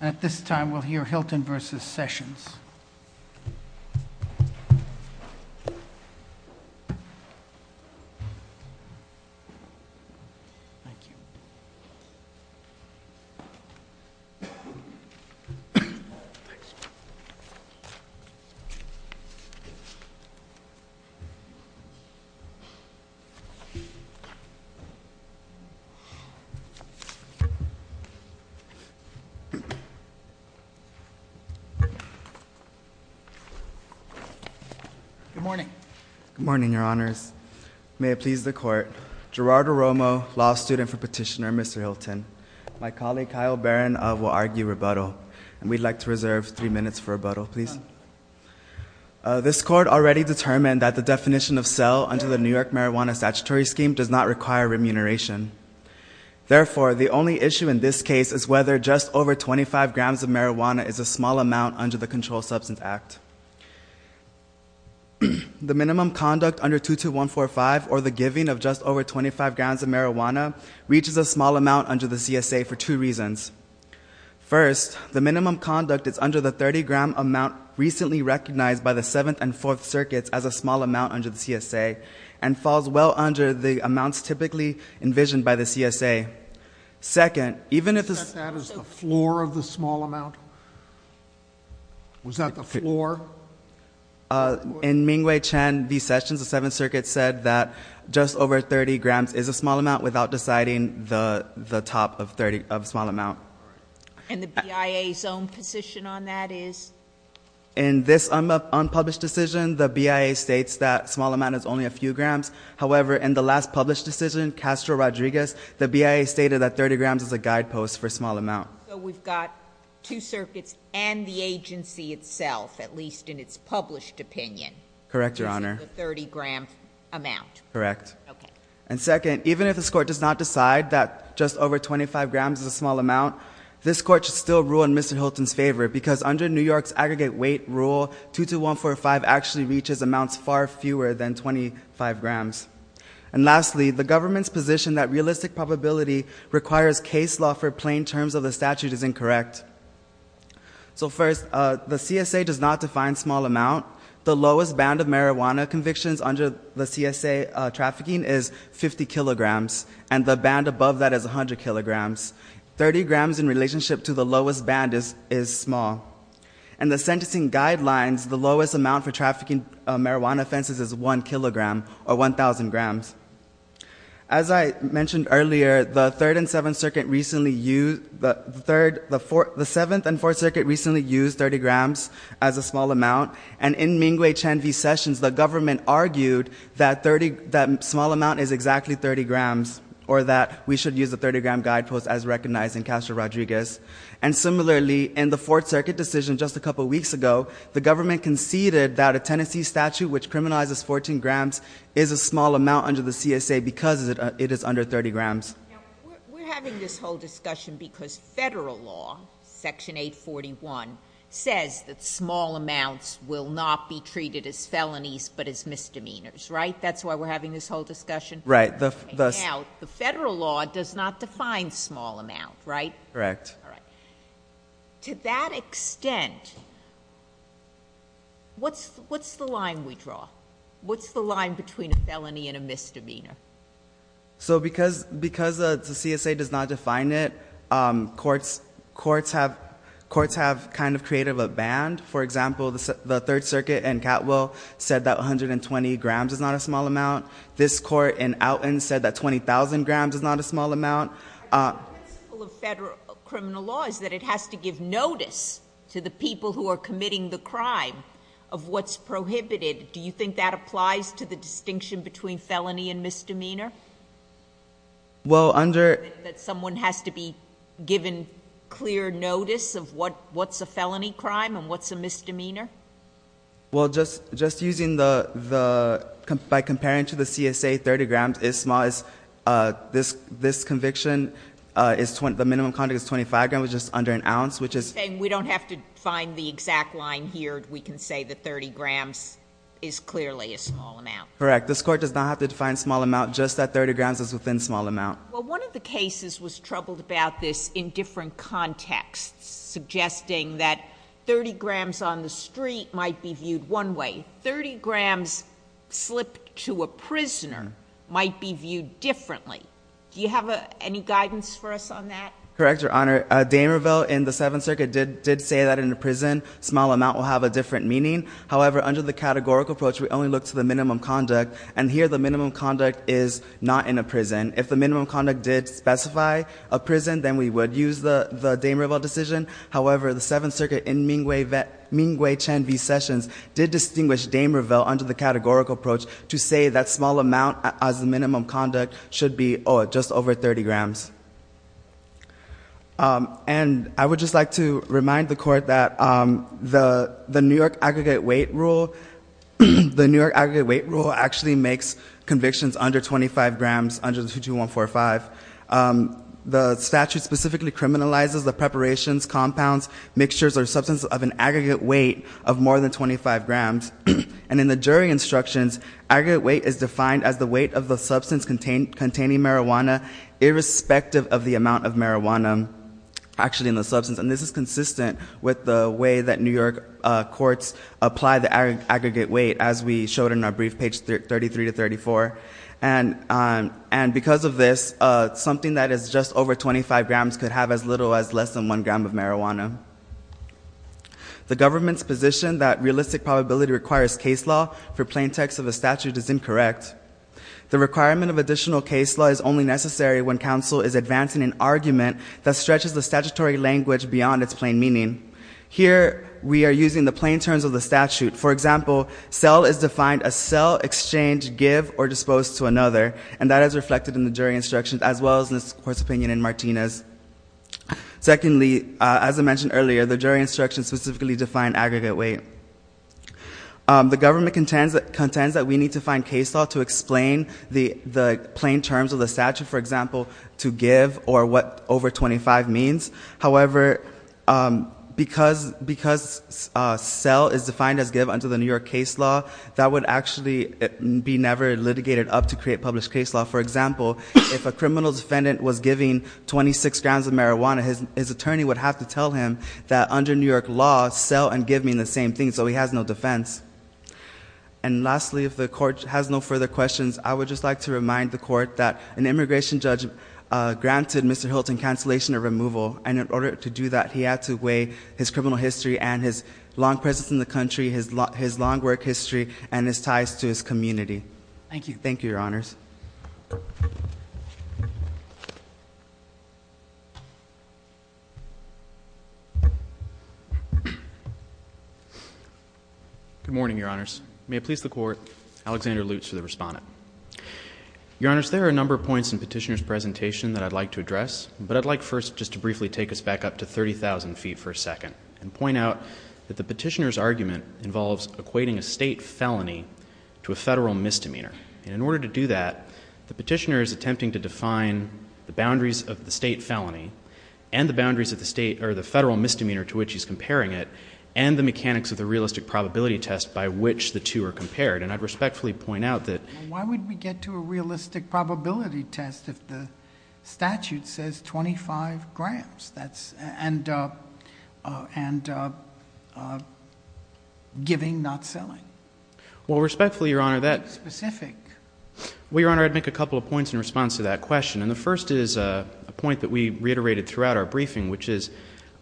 At this time, we'll hear Hylton v. Sessions. Good morning. Good morning, your honors. May it please the court. Gerardo Romo, law student for petitioner Mr. Hylton. My colleague Kyle Barron will argue rebuttal. And we'd like to reserve three minutes for rebuttal, please. This court already determined that the definition of cell under the New York Marijuana Statutory Scheme does not require remuneration. Therefore, the only issue in this case is whether just over 25 grams of marijuana is a small amount under the Controlled Substance Act. The minimum conduct under 22145 or the giving of just over 25 grams of marijuana reaches a small amount under the CSA for two reasons. First, the minimum conduct is under the 30-gram amount recently recognized by the Seventh and Fourth Circuits as a small amount under the CSA and falls well under the amounts typically envisioned by the CSA. Second, even if the- Is that the floor of the small amount? Was that the floor? In Ming Wei Chen v. Sessions, the Seventh Circuit said that just over 30 grams is a small amount without deciding the top of small amount. And the BIA's own position on that is? In this unpublished decision, the BIA states that small amount is only a few grams. However, in the last published decision, Castro Rodriguez, the BIA stated that 30 grams is a guidepost for small amount. So we've got two circuits and the agency itself, at least in its published opinion. Correct, Your Honor. This is the 30-gram amount. Correct. And second, even if this court does not decide that just over 25 grams is a small amount, this court should still rule in Mr. Hilton's favor because under New York's aggregate weight rule, 22145 actually reaches amounts far fewer than 25 grams. And lastly, the government's position that realistic probability requires case law for plain terms of the statute is incorrect. So first, the CSA does not define small amount. The lowest band of marijuana convictions under the CSA trafficking is 50 kilograms. And the band above that is 100 kilograms. 30 grams in relationship to the lowest band is small. And the sentencing guidelines, the lowest amount for trafficking marijuana offenses is 1 kilogram or 1,000 grams. As I mentioned earlier, the 7th and 4th Circuit recently used 30 grams as a small amount. And in Mingwei Chen v. Sessions, the government argued that small amount is exactly 30 grams, or that we should use the 30-gram guidepost as recognized in Castro-Rodriguez. And similarly, in the 4th Circuit decision just a couple weeks ago, the government conceded that a Tennessee statute which criminalizes 14 grams is a small amount under the CSA because it is under 30 grams. We're having this whole discussion because federal law, Section 841, says that small amounts will not be treated as felonies but as misdemeanors, right? That's why we're having this whole discussion? Right. Now, the federal law does not define small amount, right? Correct. All right. To that extent, what's the line we draw? What's the line between a felony and a misdemeanor? So because the CSA does not define it, courts have kind of created a band. For example, the 3rd Circuit in Catwell said that 120 grams is not a small amount. This court in Alton said that 20,000 grams is not a small amount. The principle of federal criminal law is that it has to give notice to the people who are committing the crime of what's prohibited. Do you think that applies to the distinction between felony and misdemeanor? Well, under— That someone has to be given clear notice of what's a felony crime and what's a misdemeanor? Well, just using the—by comparing to the CSA, 30 grams is small. This conviction, the minimum conduct is 25 grams, which is under an ounce, which is— We don't have to define the exact line here. We can say that 30 grams is clearly a small amount. Correct. This court does not have to define small amount, just that 30 grams is within small amount. Well, one of the cases was troubled about this in different contexts, suggesting that 30 grams on the street might be viewed one way. 30 grams slipped to a prisoner might be viewed differently. Do you have any guidance for us on that? Correct, Your Honor. Damerville in the Seventh Circuit did say that in a prison, small amount will have a different meaning. However, under the categorical approach, we only look to the minimum conduct, and here the minimum conduct is not in a prison. If the minimum conduct did specify a prison, then we would use the Damerville decision. However, the Seventh Circuit in Mingwei Chen v. Sessions did distinguish Damerville under the categorical approach to say that small amount as the minimum conduct should be just over 30 grams. And I would just like to remind the court that the New York aggregate weight rule actually makes convictions under 25 grams under 22145. The statute specifically criminalizes the preparations, compounds, mixtures, or substance of an aggregate weight of more than 25 grams. And in the jury instructions, aggregate weight is defined as the weight of the substance containing marijuana irrespective of the amount of marijuana actually in the substance. And this is consistent with the way that New York courts apply the aggregate weight as we showed in our brief page 33 to 34. And because of this, something that is just over 25 grams could have as little as less than one gram of marijuana. The government's position that realistic probability requires case law for plain text of a statute is incorrect. The requirement of additional case law is only necessary when counsel is advancing an argument that stretches the statutory language beyond its plain meaning. Here, we are using the plain terms of the statute. For example, sell is defined as sell, exchange, give, or dispose to another, and that is reflected in the jury instructions as well as in this court's opinion in Martinez. Secondly, as I mentioned earlier, the jury instructions specifically define aggregate weight. The government contends that we need to find case law to explain the plain terms of the statute, for example, to give or what over 25 means. However, because sell is defined as give under the New York case law, that would actually be never litigated up to create published case law. For example, if a criminal defendant was giving 26 grams of marijuana, his attorney would have to tell him that under New York law, sell and give mean the same thing. So he has no defense. And lastly, if the court has no further questions, I would just like to remind the court that an immigration judge granted Mr. Hilton cancellation or removal. And in order to do that, he had to weigh his criminal history and his long presence in the country, his long work history, and his ties to his community. Thank you. Thank you, Your Honors. Good morning, Your Honors. May it please the court, Alexander Lutz for the respondent. Your Honors, there are a number of points in Petitioner's presentation that I'd like to address, but I'd like first just to briefly take us back up to 30,000 feet for a second and point out that the petitioner's argument involves equating a state felony to a federal misdemeanor. And in order to do that, the petitioner is attempting to define the boundaries of the state felony and the federal misdemeanor to which he's comparing it and the mechanics of the realistic probability test by which the two are compared. And I'd respectfully point out that- Why would we get to a realistic probability test if the statute says 25 grams? And giving, not selling. Well, respectfully, Your Honor, that- Specific. Well, Your Honor, I'd make a couple of points in response to that question. And the first is a point that we reiterated throughout our briefing, which is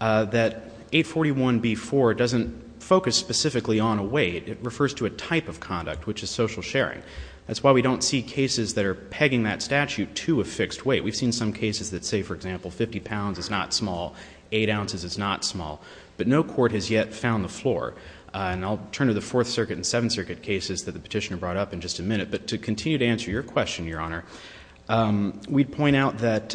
that 841B4 doesn't focus specifically on a weight. It refers to a type of conduct, which is social sharing. That's why we don't see cases that are pegging that statute to a fixed weight. We've seen some cases that say, for example, 50 pounds is not small, 8 ounces is not small. But no court has yet found the floor. And I'll turn to the Fourth Circuit and Seventh Circuit cases that the petitioner brought up in just a minute. But to continue to answer your question, Your Honor, we'd point out that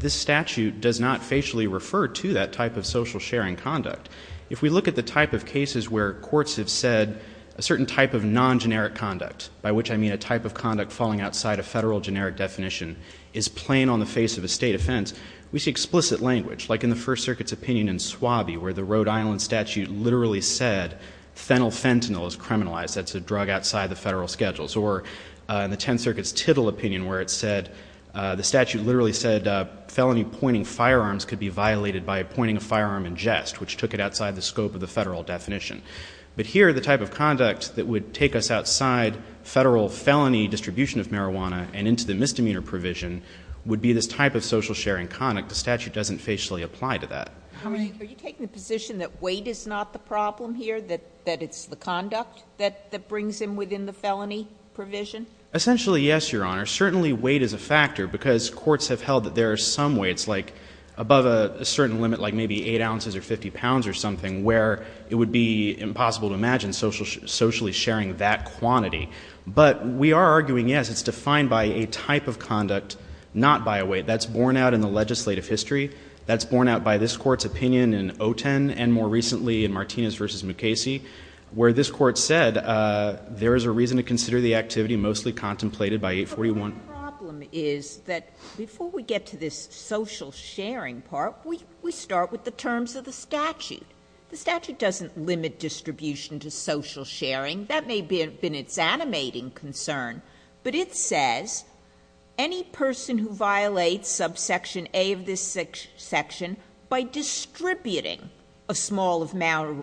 this statute does not facially refer to that type of social sharing conduct. If we look at the type of cases where courts have said a certain type of non-generic conduct, by which I mean a type of conduct falling outside a federal generic definition, is plain on the face of a state offense, we see explicit language, like in the First Circuit's opinion in Swabie, where the Rhode Island statute literally said fennel fentanyl is criminalized. That's a drug outside the federal schedules. Or in the Tenth Circuit's Tittle opinion, where it said the statute literally said felony pointing firearms could be violated by pointing a firearm in jest, which took it outside the scope of the federal definition. But here, the type of conduct that would take us outside federal felony distribution of marijuana and into the misdemeanor provision would be this type of social sharing conduct. The statute doesn't facially apply to that. Are you taking the position that weight is not the problem here, that it's the conduct that brings him within the felony provision? Essentially, yes, Your Honor. Certainly, weight is a factor because courts have held that there are some weights, like above a certain limit, like maybe 8 ounces or 50 pounds or something, where it would be impossible to imagine socially sharing that quantity. But we are arguing, yes, it's defined by a type of conduct, not by a weight. That's borne out in the legislative history. That's borne out by this Court's opinion in Oten and, more recently, in Martinez v. McCasey, where this Court said there is a reason to consider the activity mostly contemplated by 841. My problem is that before we get to this social sharing part, we start with the terms of the statute. The statute doesn't limit distribution to social sharing. That may have been its animating concern, but it says any person who violates subsection A of this section by distributing a small amount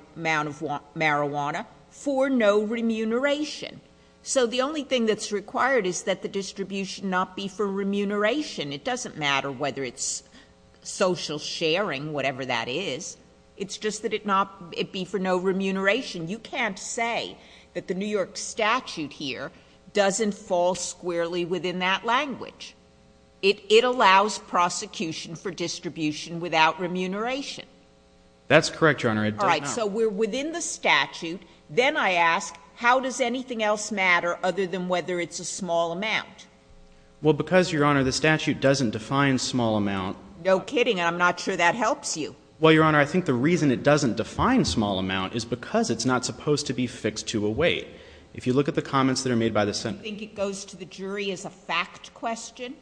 of marijuana for no remuneration. So the only thing that's required is that the distribution not be for remuneration. It doesn't matter whether it's social sharing, whatever that is. It's just that it be for no remuneration. You can't say that the New York statute here doesn't fall squarely within that language. It allows prosecution for distribution without remuneration. That's correct, Your Honor. It does not. So we're within the statute. Then I ask, how does anything else matter other than whether it's a small amount? Well, because, Your Honor, the statute doesn't define small amount. No kidding, and I'm not sure that helps you. Well, Your Honor, I think the reason it doesn't define small amount is because it's not supposed to be fixed to a weight. If you look at the comments that are made by the Senate. Do you think it goes to the jury as a fact question?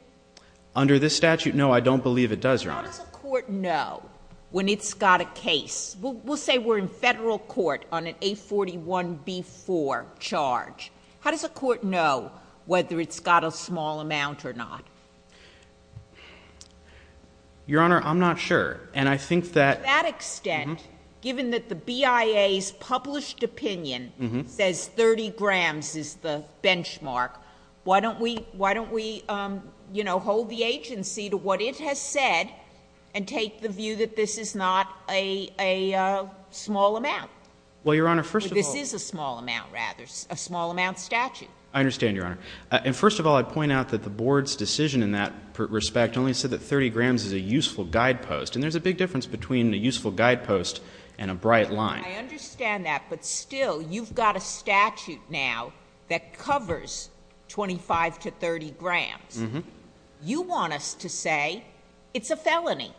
Under this statute, no, I don't believe it does, Your Honor. How does a court know when it's got a case? We'll say we're in federal court on an A41B4 charge. How does a court know whether it's got a small amount or not? Your Honor, I'm not sure, and I think that— To that extent, given that the BIA's published opinion says 30 grams is the benchmark, why don't we hold the agency to what it has said and take the view that this is not a small amount? Well, Your Honor, first of all— This is a small amount, rather, a small amount statute. I understand, Your Honor. And first of all, I'd point out that the Board's decision in that respect only said that 30 grams is a useful guidepost, and there's a big difference between a useful guidepost and a bright line. I understand that, but still, you've got a statute now that covers 25 to 30 grams. You want us to say it's a felony,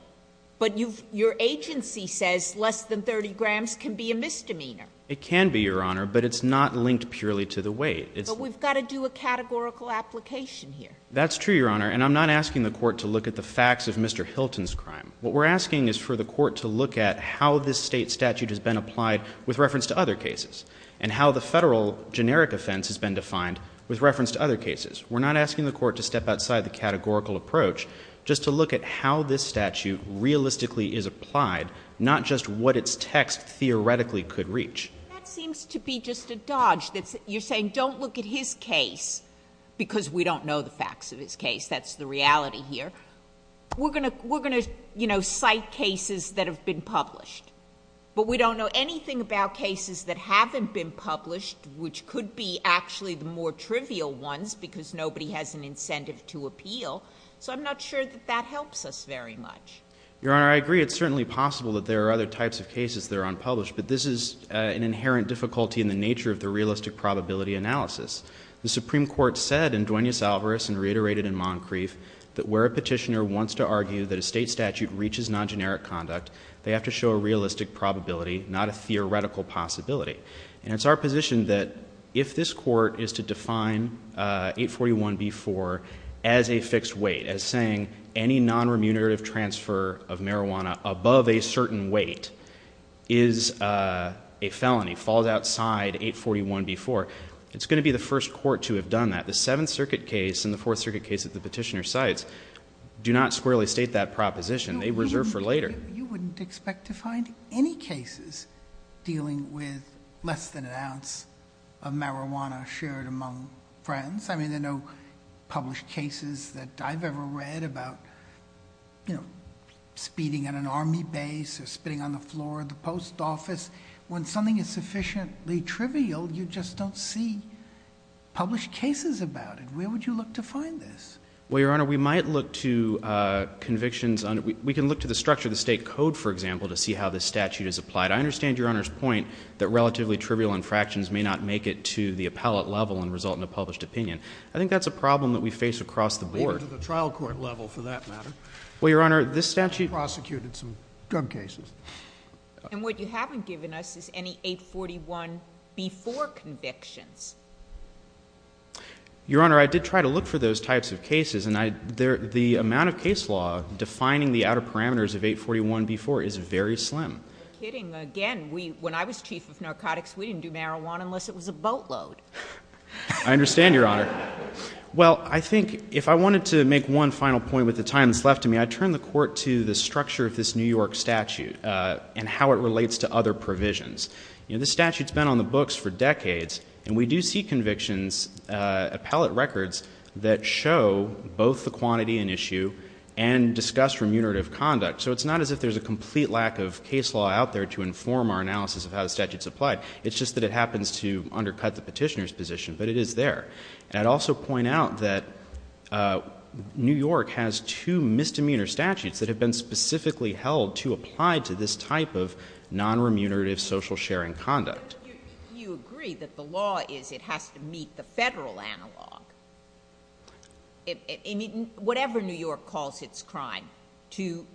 but your agency says less than 30 grams can be a misdemeanor. It can be, Your Honor, but it's not linked purely to the weight. But we've got to do a categorical application here. That's true, Your Honor, and I'm not asking the court to look at the facts of Mr. Hilton's crime. What we're asking is for the court to look at how this State statute has been applied with reference to other cases and how the Federal generic offense has been defined with reference to other cases. We're not asking the court to step outside the categorical approach, just to look at how this statute realistically is applied, not just what its text theoretically could reach. That seems to be just a dodge. You're saying don't look at his case because we don't know the facts of his case. That's the reality here. We're going to cite cases that have been published, but we don't know anything about cases that haven't been published, which could be actually the more trivial ones because nobody has an incentive to appeal. So I'm not sure that that helps us very much. Your Honor, I agree it's certainly possible that there are other types of cases that are unpublished, but this is an inherent difficulty in the nature of the realistic probability analysis. The Supreme Court said in Duenas-Alvarez and reiterated in Moncrief that where a petitioner wants to argue that a State statute reaches non-generic conduct, they have to show a realistic probability, not a theoretical possibility. And it's our position that if this court is to define 841b-4 as a fixed weight, as saying any non-remunerative transfer of marijuana above a certain weight is a felony, falls outside 841b-4, it's going to be the first court to have done that. The Seventh Circuit case and the Fourth Circuit case that the petitioner cites do not squarely state that proposition. They reserve for later. You wouldn't expect to find any cases dealing with less than an ounce of marijuana shared among friends. I mean, there are no published cases that I've ever read about speeding at an Army base or spitting on the floor of the post office. When something is sufficiently trivial, you just don't see published cases about it. Where would you look to find this? Well, Your Honor, we might look to convictions. We can look to the structure of the State code, for example, to see how this statute is applied. I understand Your Honor's point that relatively trivial infractions may not make it to the appellate level and result in a published opinion. I think that's a problem that we face across the board. Or to the trial court level, for that matter. Well, Your Honor, this statute – Prosecuted some drug cases. And what you haven't given us is any 841B4 convictions. Your Honor, I did try to look for those types of cases, and the amount of case law defining the outer parameters of 841B4 is very slim. You're kidding. Again, when I was Chief of Narcotics, we didn't do marijuana unless it was a boatload. I understand, Your Honor. Well, I think if I wanted to make one final point with the time that's left to me, I'd turn the court to the structure of this New York statute and how it relates to other provisions. This statute's been on the books for decades, and we do see convictions, appellate records, that show both the quantity and issue and discuss remunerative conduct. So it's not as if there's a complete lack of case law out there to inform our analysis of how the statute's applied. It's just that it happens to undercut the petitioner's position. But it is there. And I'd also point out that New York has two misdemeanor statutes that have been specifically held to apply to this type of nonremunerative social sharing conduct. Do you agree that the law is it has to meet the federal analog? I mean, whatever New York calls its crime, to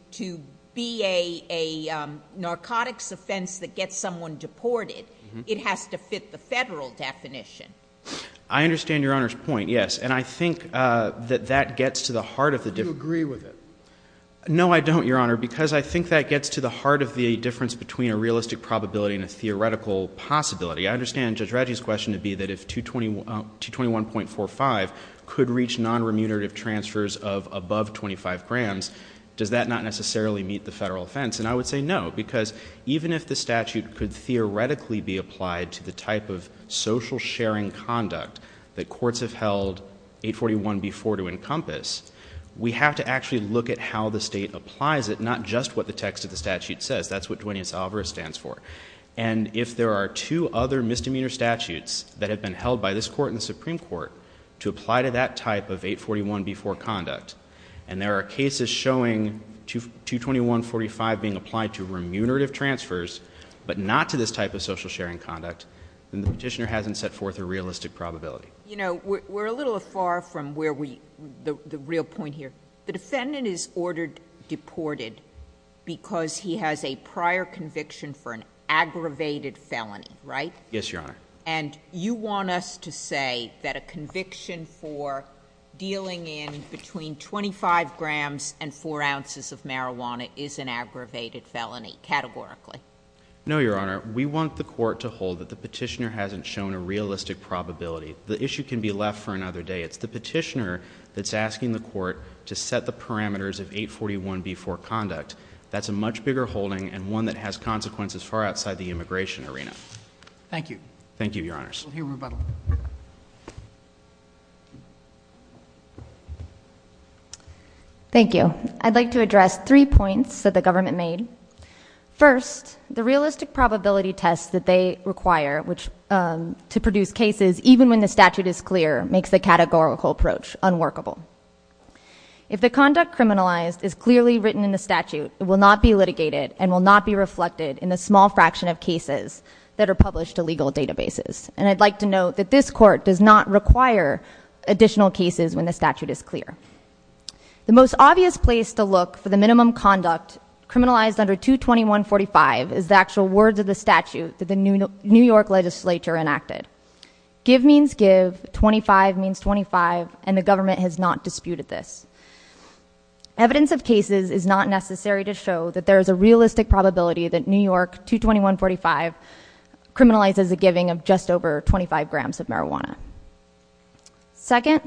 be a narcotics offense that gets someone deported, it has to fit the federal definition. I understand Your Honor's point, yes. And I think that that gets to the heart of the difference. Do you agree with it? No, I don't, Your Honor, because I think that gets to the heart of the difference between a realistic probability and a theoretical possibility. I understand Judge Radji's question to be that if 221.45 could reach nonremunerative transfers of above 25 grams, does that not necessarily meet the federal offense? And I would say no, because even if the statute could theoretically be applied to the type of social sharing conduct that courts have held 841.b.4 to encompass, we have to actually look at how the state applies it, not just what the text of the statute says. That's what Duenas-Alvarez stands for. And if there are two other misdemeanor statutes that have been held by this court and the Supreme Court to apply to that type of 841.b.4 conduct, and there are cases showing 221.45 being applied to remunerative transfers, but not to this type of social sharing conduct, then the petitioner hasn't set forth a realistic probability. You know, we're a little far from the real point here. The defendant is ordered deported because he has a prior conviction for an aggravated felony, right? Yes, Your Honor. And you want us to say that a conviction for dealing in between 25 grams and 4 ounces of marijuana is an aggravated felony categorically? No, Your Honor. We want the court to hold that the petitioner hasn't shown a realistic probability. The issue can be left for another day. It's the petitioner that's asking the court to set the parameters of 841.b.4 conduct. That's a much bigger holding and one that has consequences far outside the immigration arena. Thank you. Thank you, Your Honors. We'll hear rebuttal. Thank you. I'd like to address three points that the government made. First, the realistic probability test that they require to produce cases, even when the statute is clear, makes the categorical approach unworkable. If the conduct criminalized is clearly written in the statute, it will not be litigated and will not be reflected in the small fraction of cases that are published to legal databases. And I'd like to note that this court does not require additional cases when the statute is clear. The most obvious place to look for the minimum conduct criminalized under 221.45 is the actual words of the statute that the New York legislature enacted. Give means give, 25 means 25, and the government has not disputed this. Evidence of cases is not necessary to show that there is a realistic probability that New York 221.45 criminalizes the giving of just over 25 grams of marijuana. Second,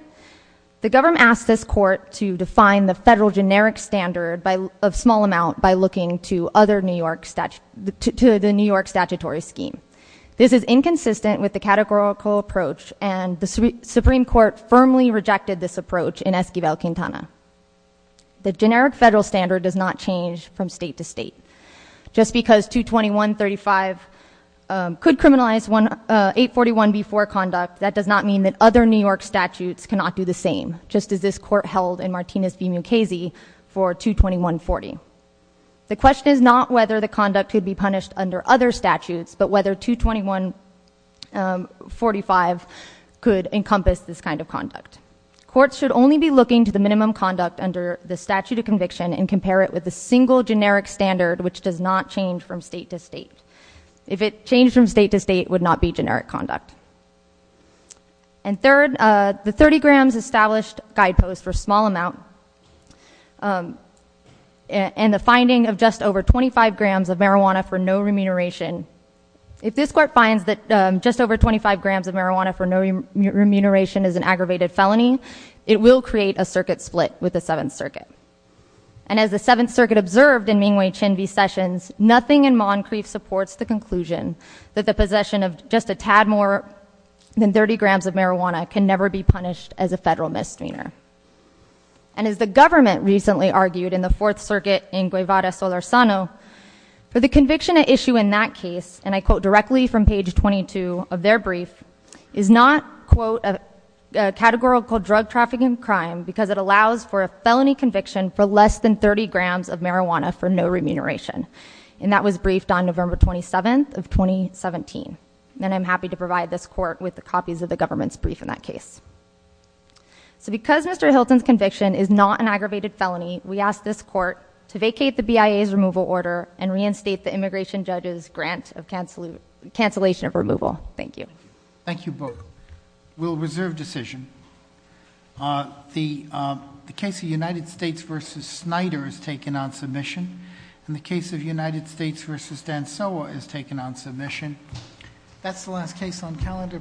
the government asked this court to define the federal generic standard of small amount by looking to the New York statutory scheme. This is inconsistent with the categorical approach, and the Supreme Court firmly rejected this approach in Esquivel-Quintana. The generic federal standard does not change from state to state. Just because 221.35 could criminalize 841B4 conduct, that does not mean that other New York statutes cannot do the same, just as this court held in Martinez v. Mukasey for 221.40. The question is not whether the conduct could be punished under other statutes, but whether 221.45 could encompass this kind of conduct. Courts should only be looking to the minimum conduct under the statute of conviction and compare it with a single generic standard which does not change from state to state. If it changed from state to state, it would not be generic conduct. And third, the 30 grams established guideposts for small amount and the finding of just over 25 grams of marijuana for no remuneration, if this court finds that just over 25 grams of marijuana for no remuneration is an aggravated felony, it will create a circuit split with the Seventh Circuit. And as the Seventh Circuit observed in Ming Wei Chin v. Sessions, nothing in Moncrief supports the conclusion that the possession of just a tad more than 30 grams of marijuana can never be punished as a federal misdemeanor. And as the government recently argued in the Fourth Circuit in Guevara v. Solorzano, for the conviction at issue in that case, and I quote directly from page 22 of their brief, is not, quote, a categorical drug trafficking crime because it allows for a felony conviction for less than 30 grams of marijuana for no remuneration. And that was briefed on November 27th of 2017. And I'm happy to provide this court with the copies of the government's brief in that case. So because Mr. Hilton's conviction is not an aggravated felony, we ask this court to vacate the BIA's removal order and reinstate the immigration judge's grant of cancellation of removal. Thank you. Thank you both. We'll reserve decision. The case of United States v. Snyder is taken on submission. And the case of United States v. Dansoa is taken on submission. That's the last case on calendar.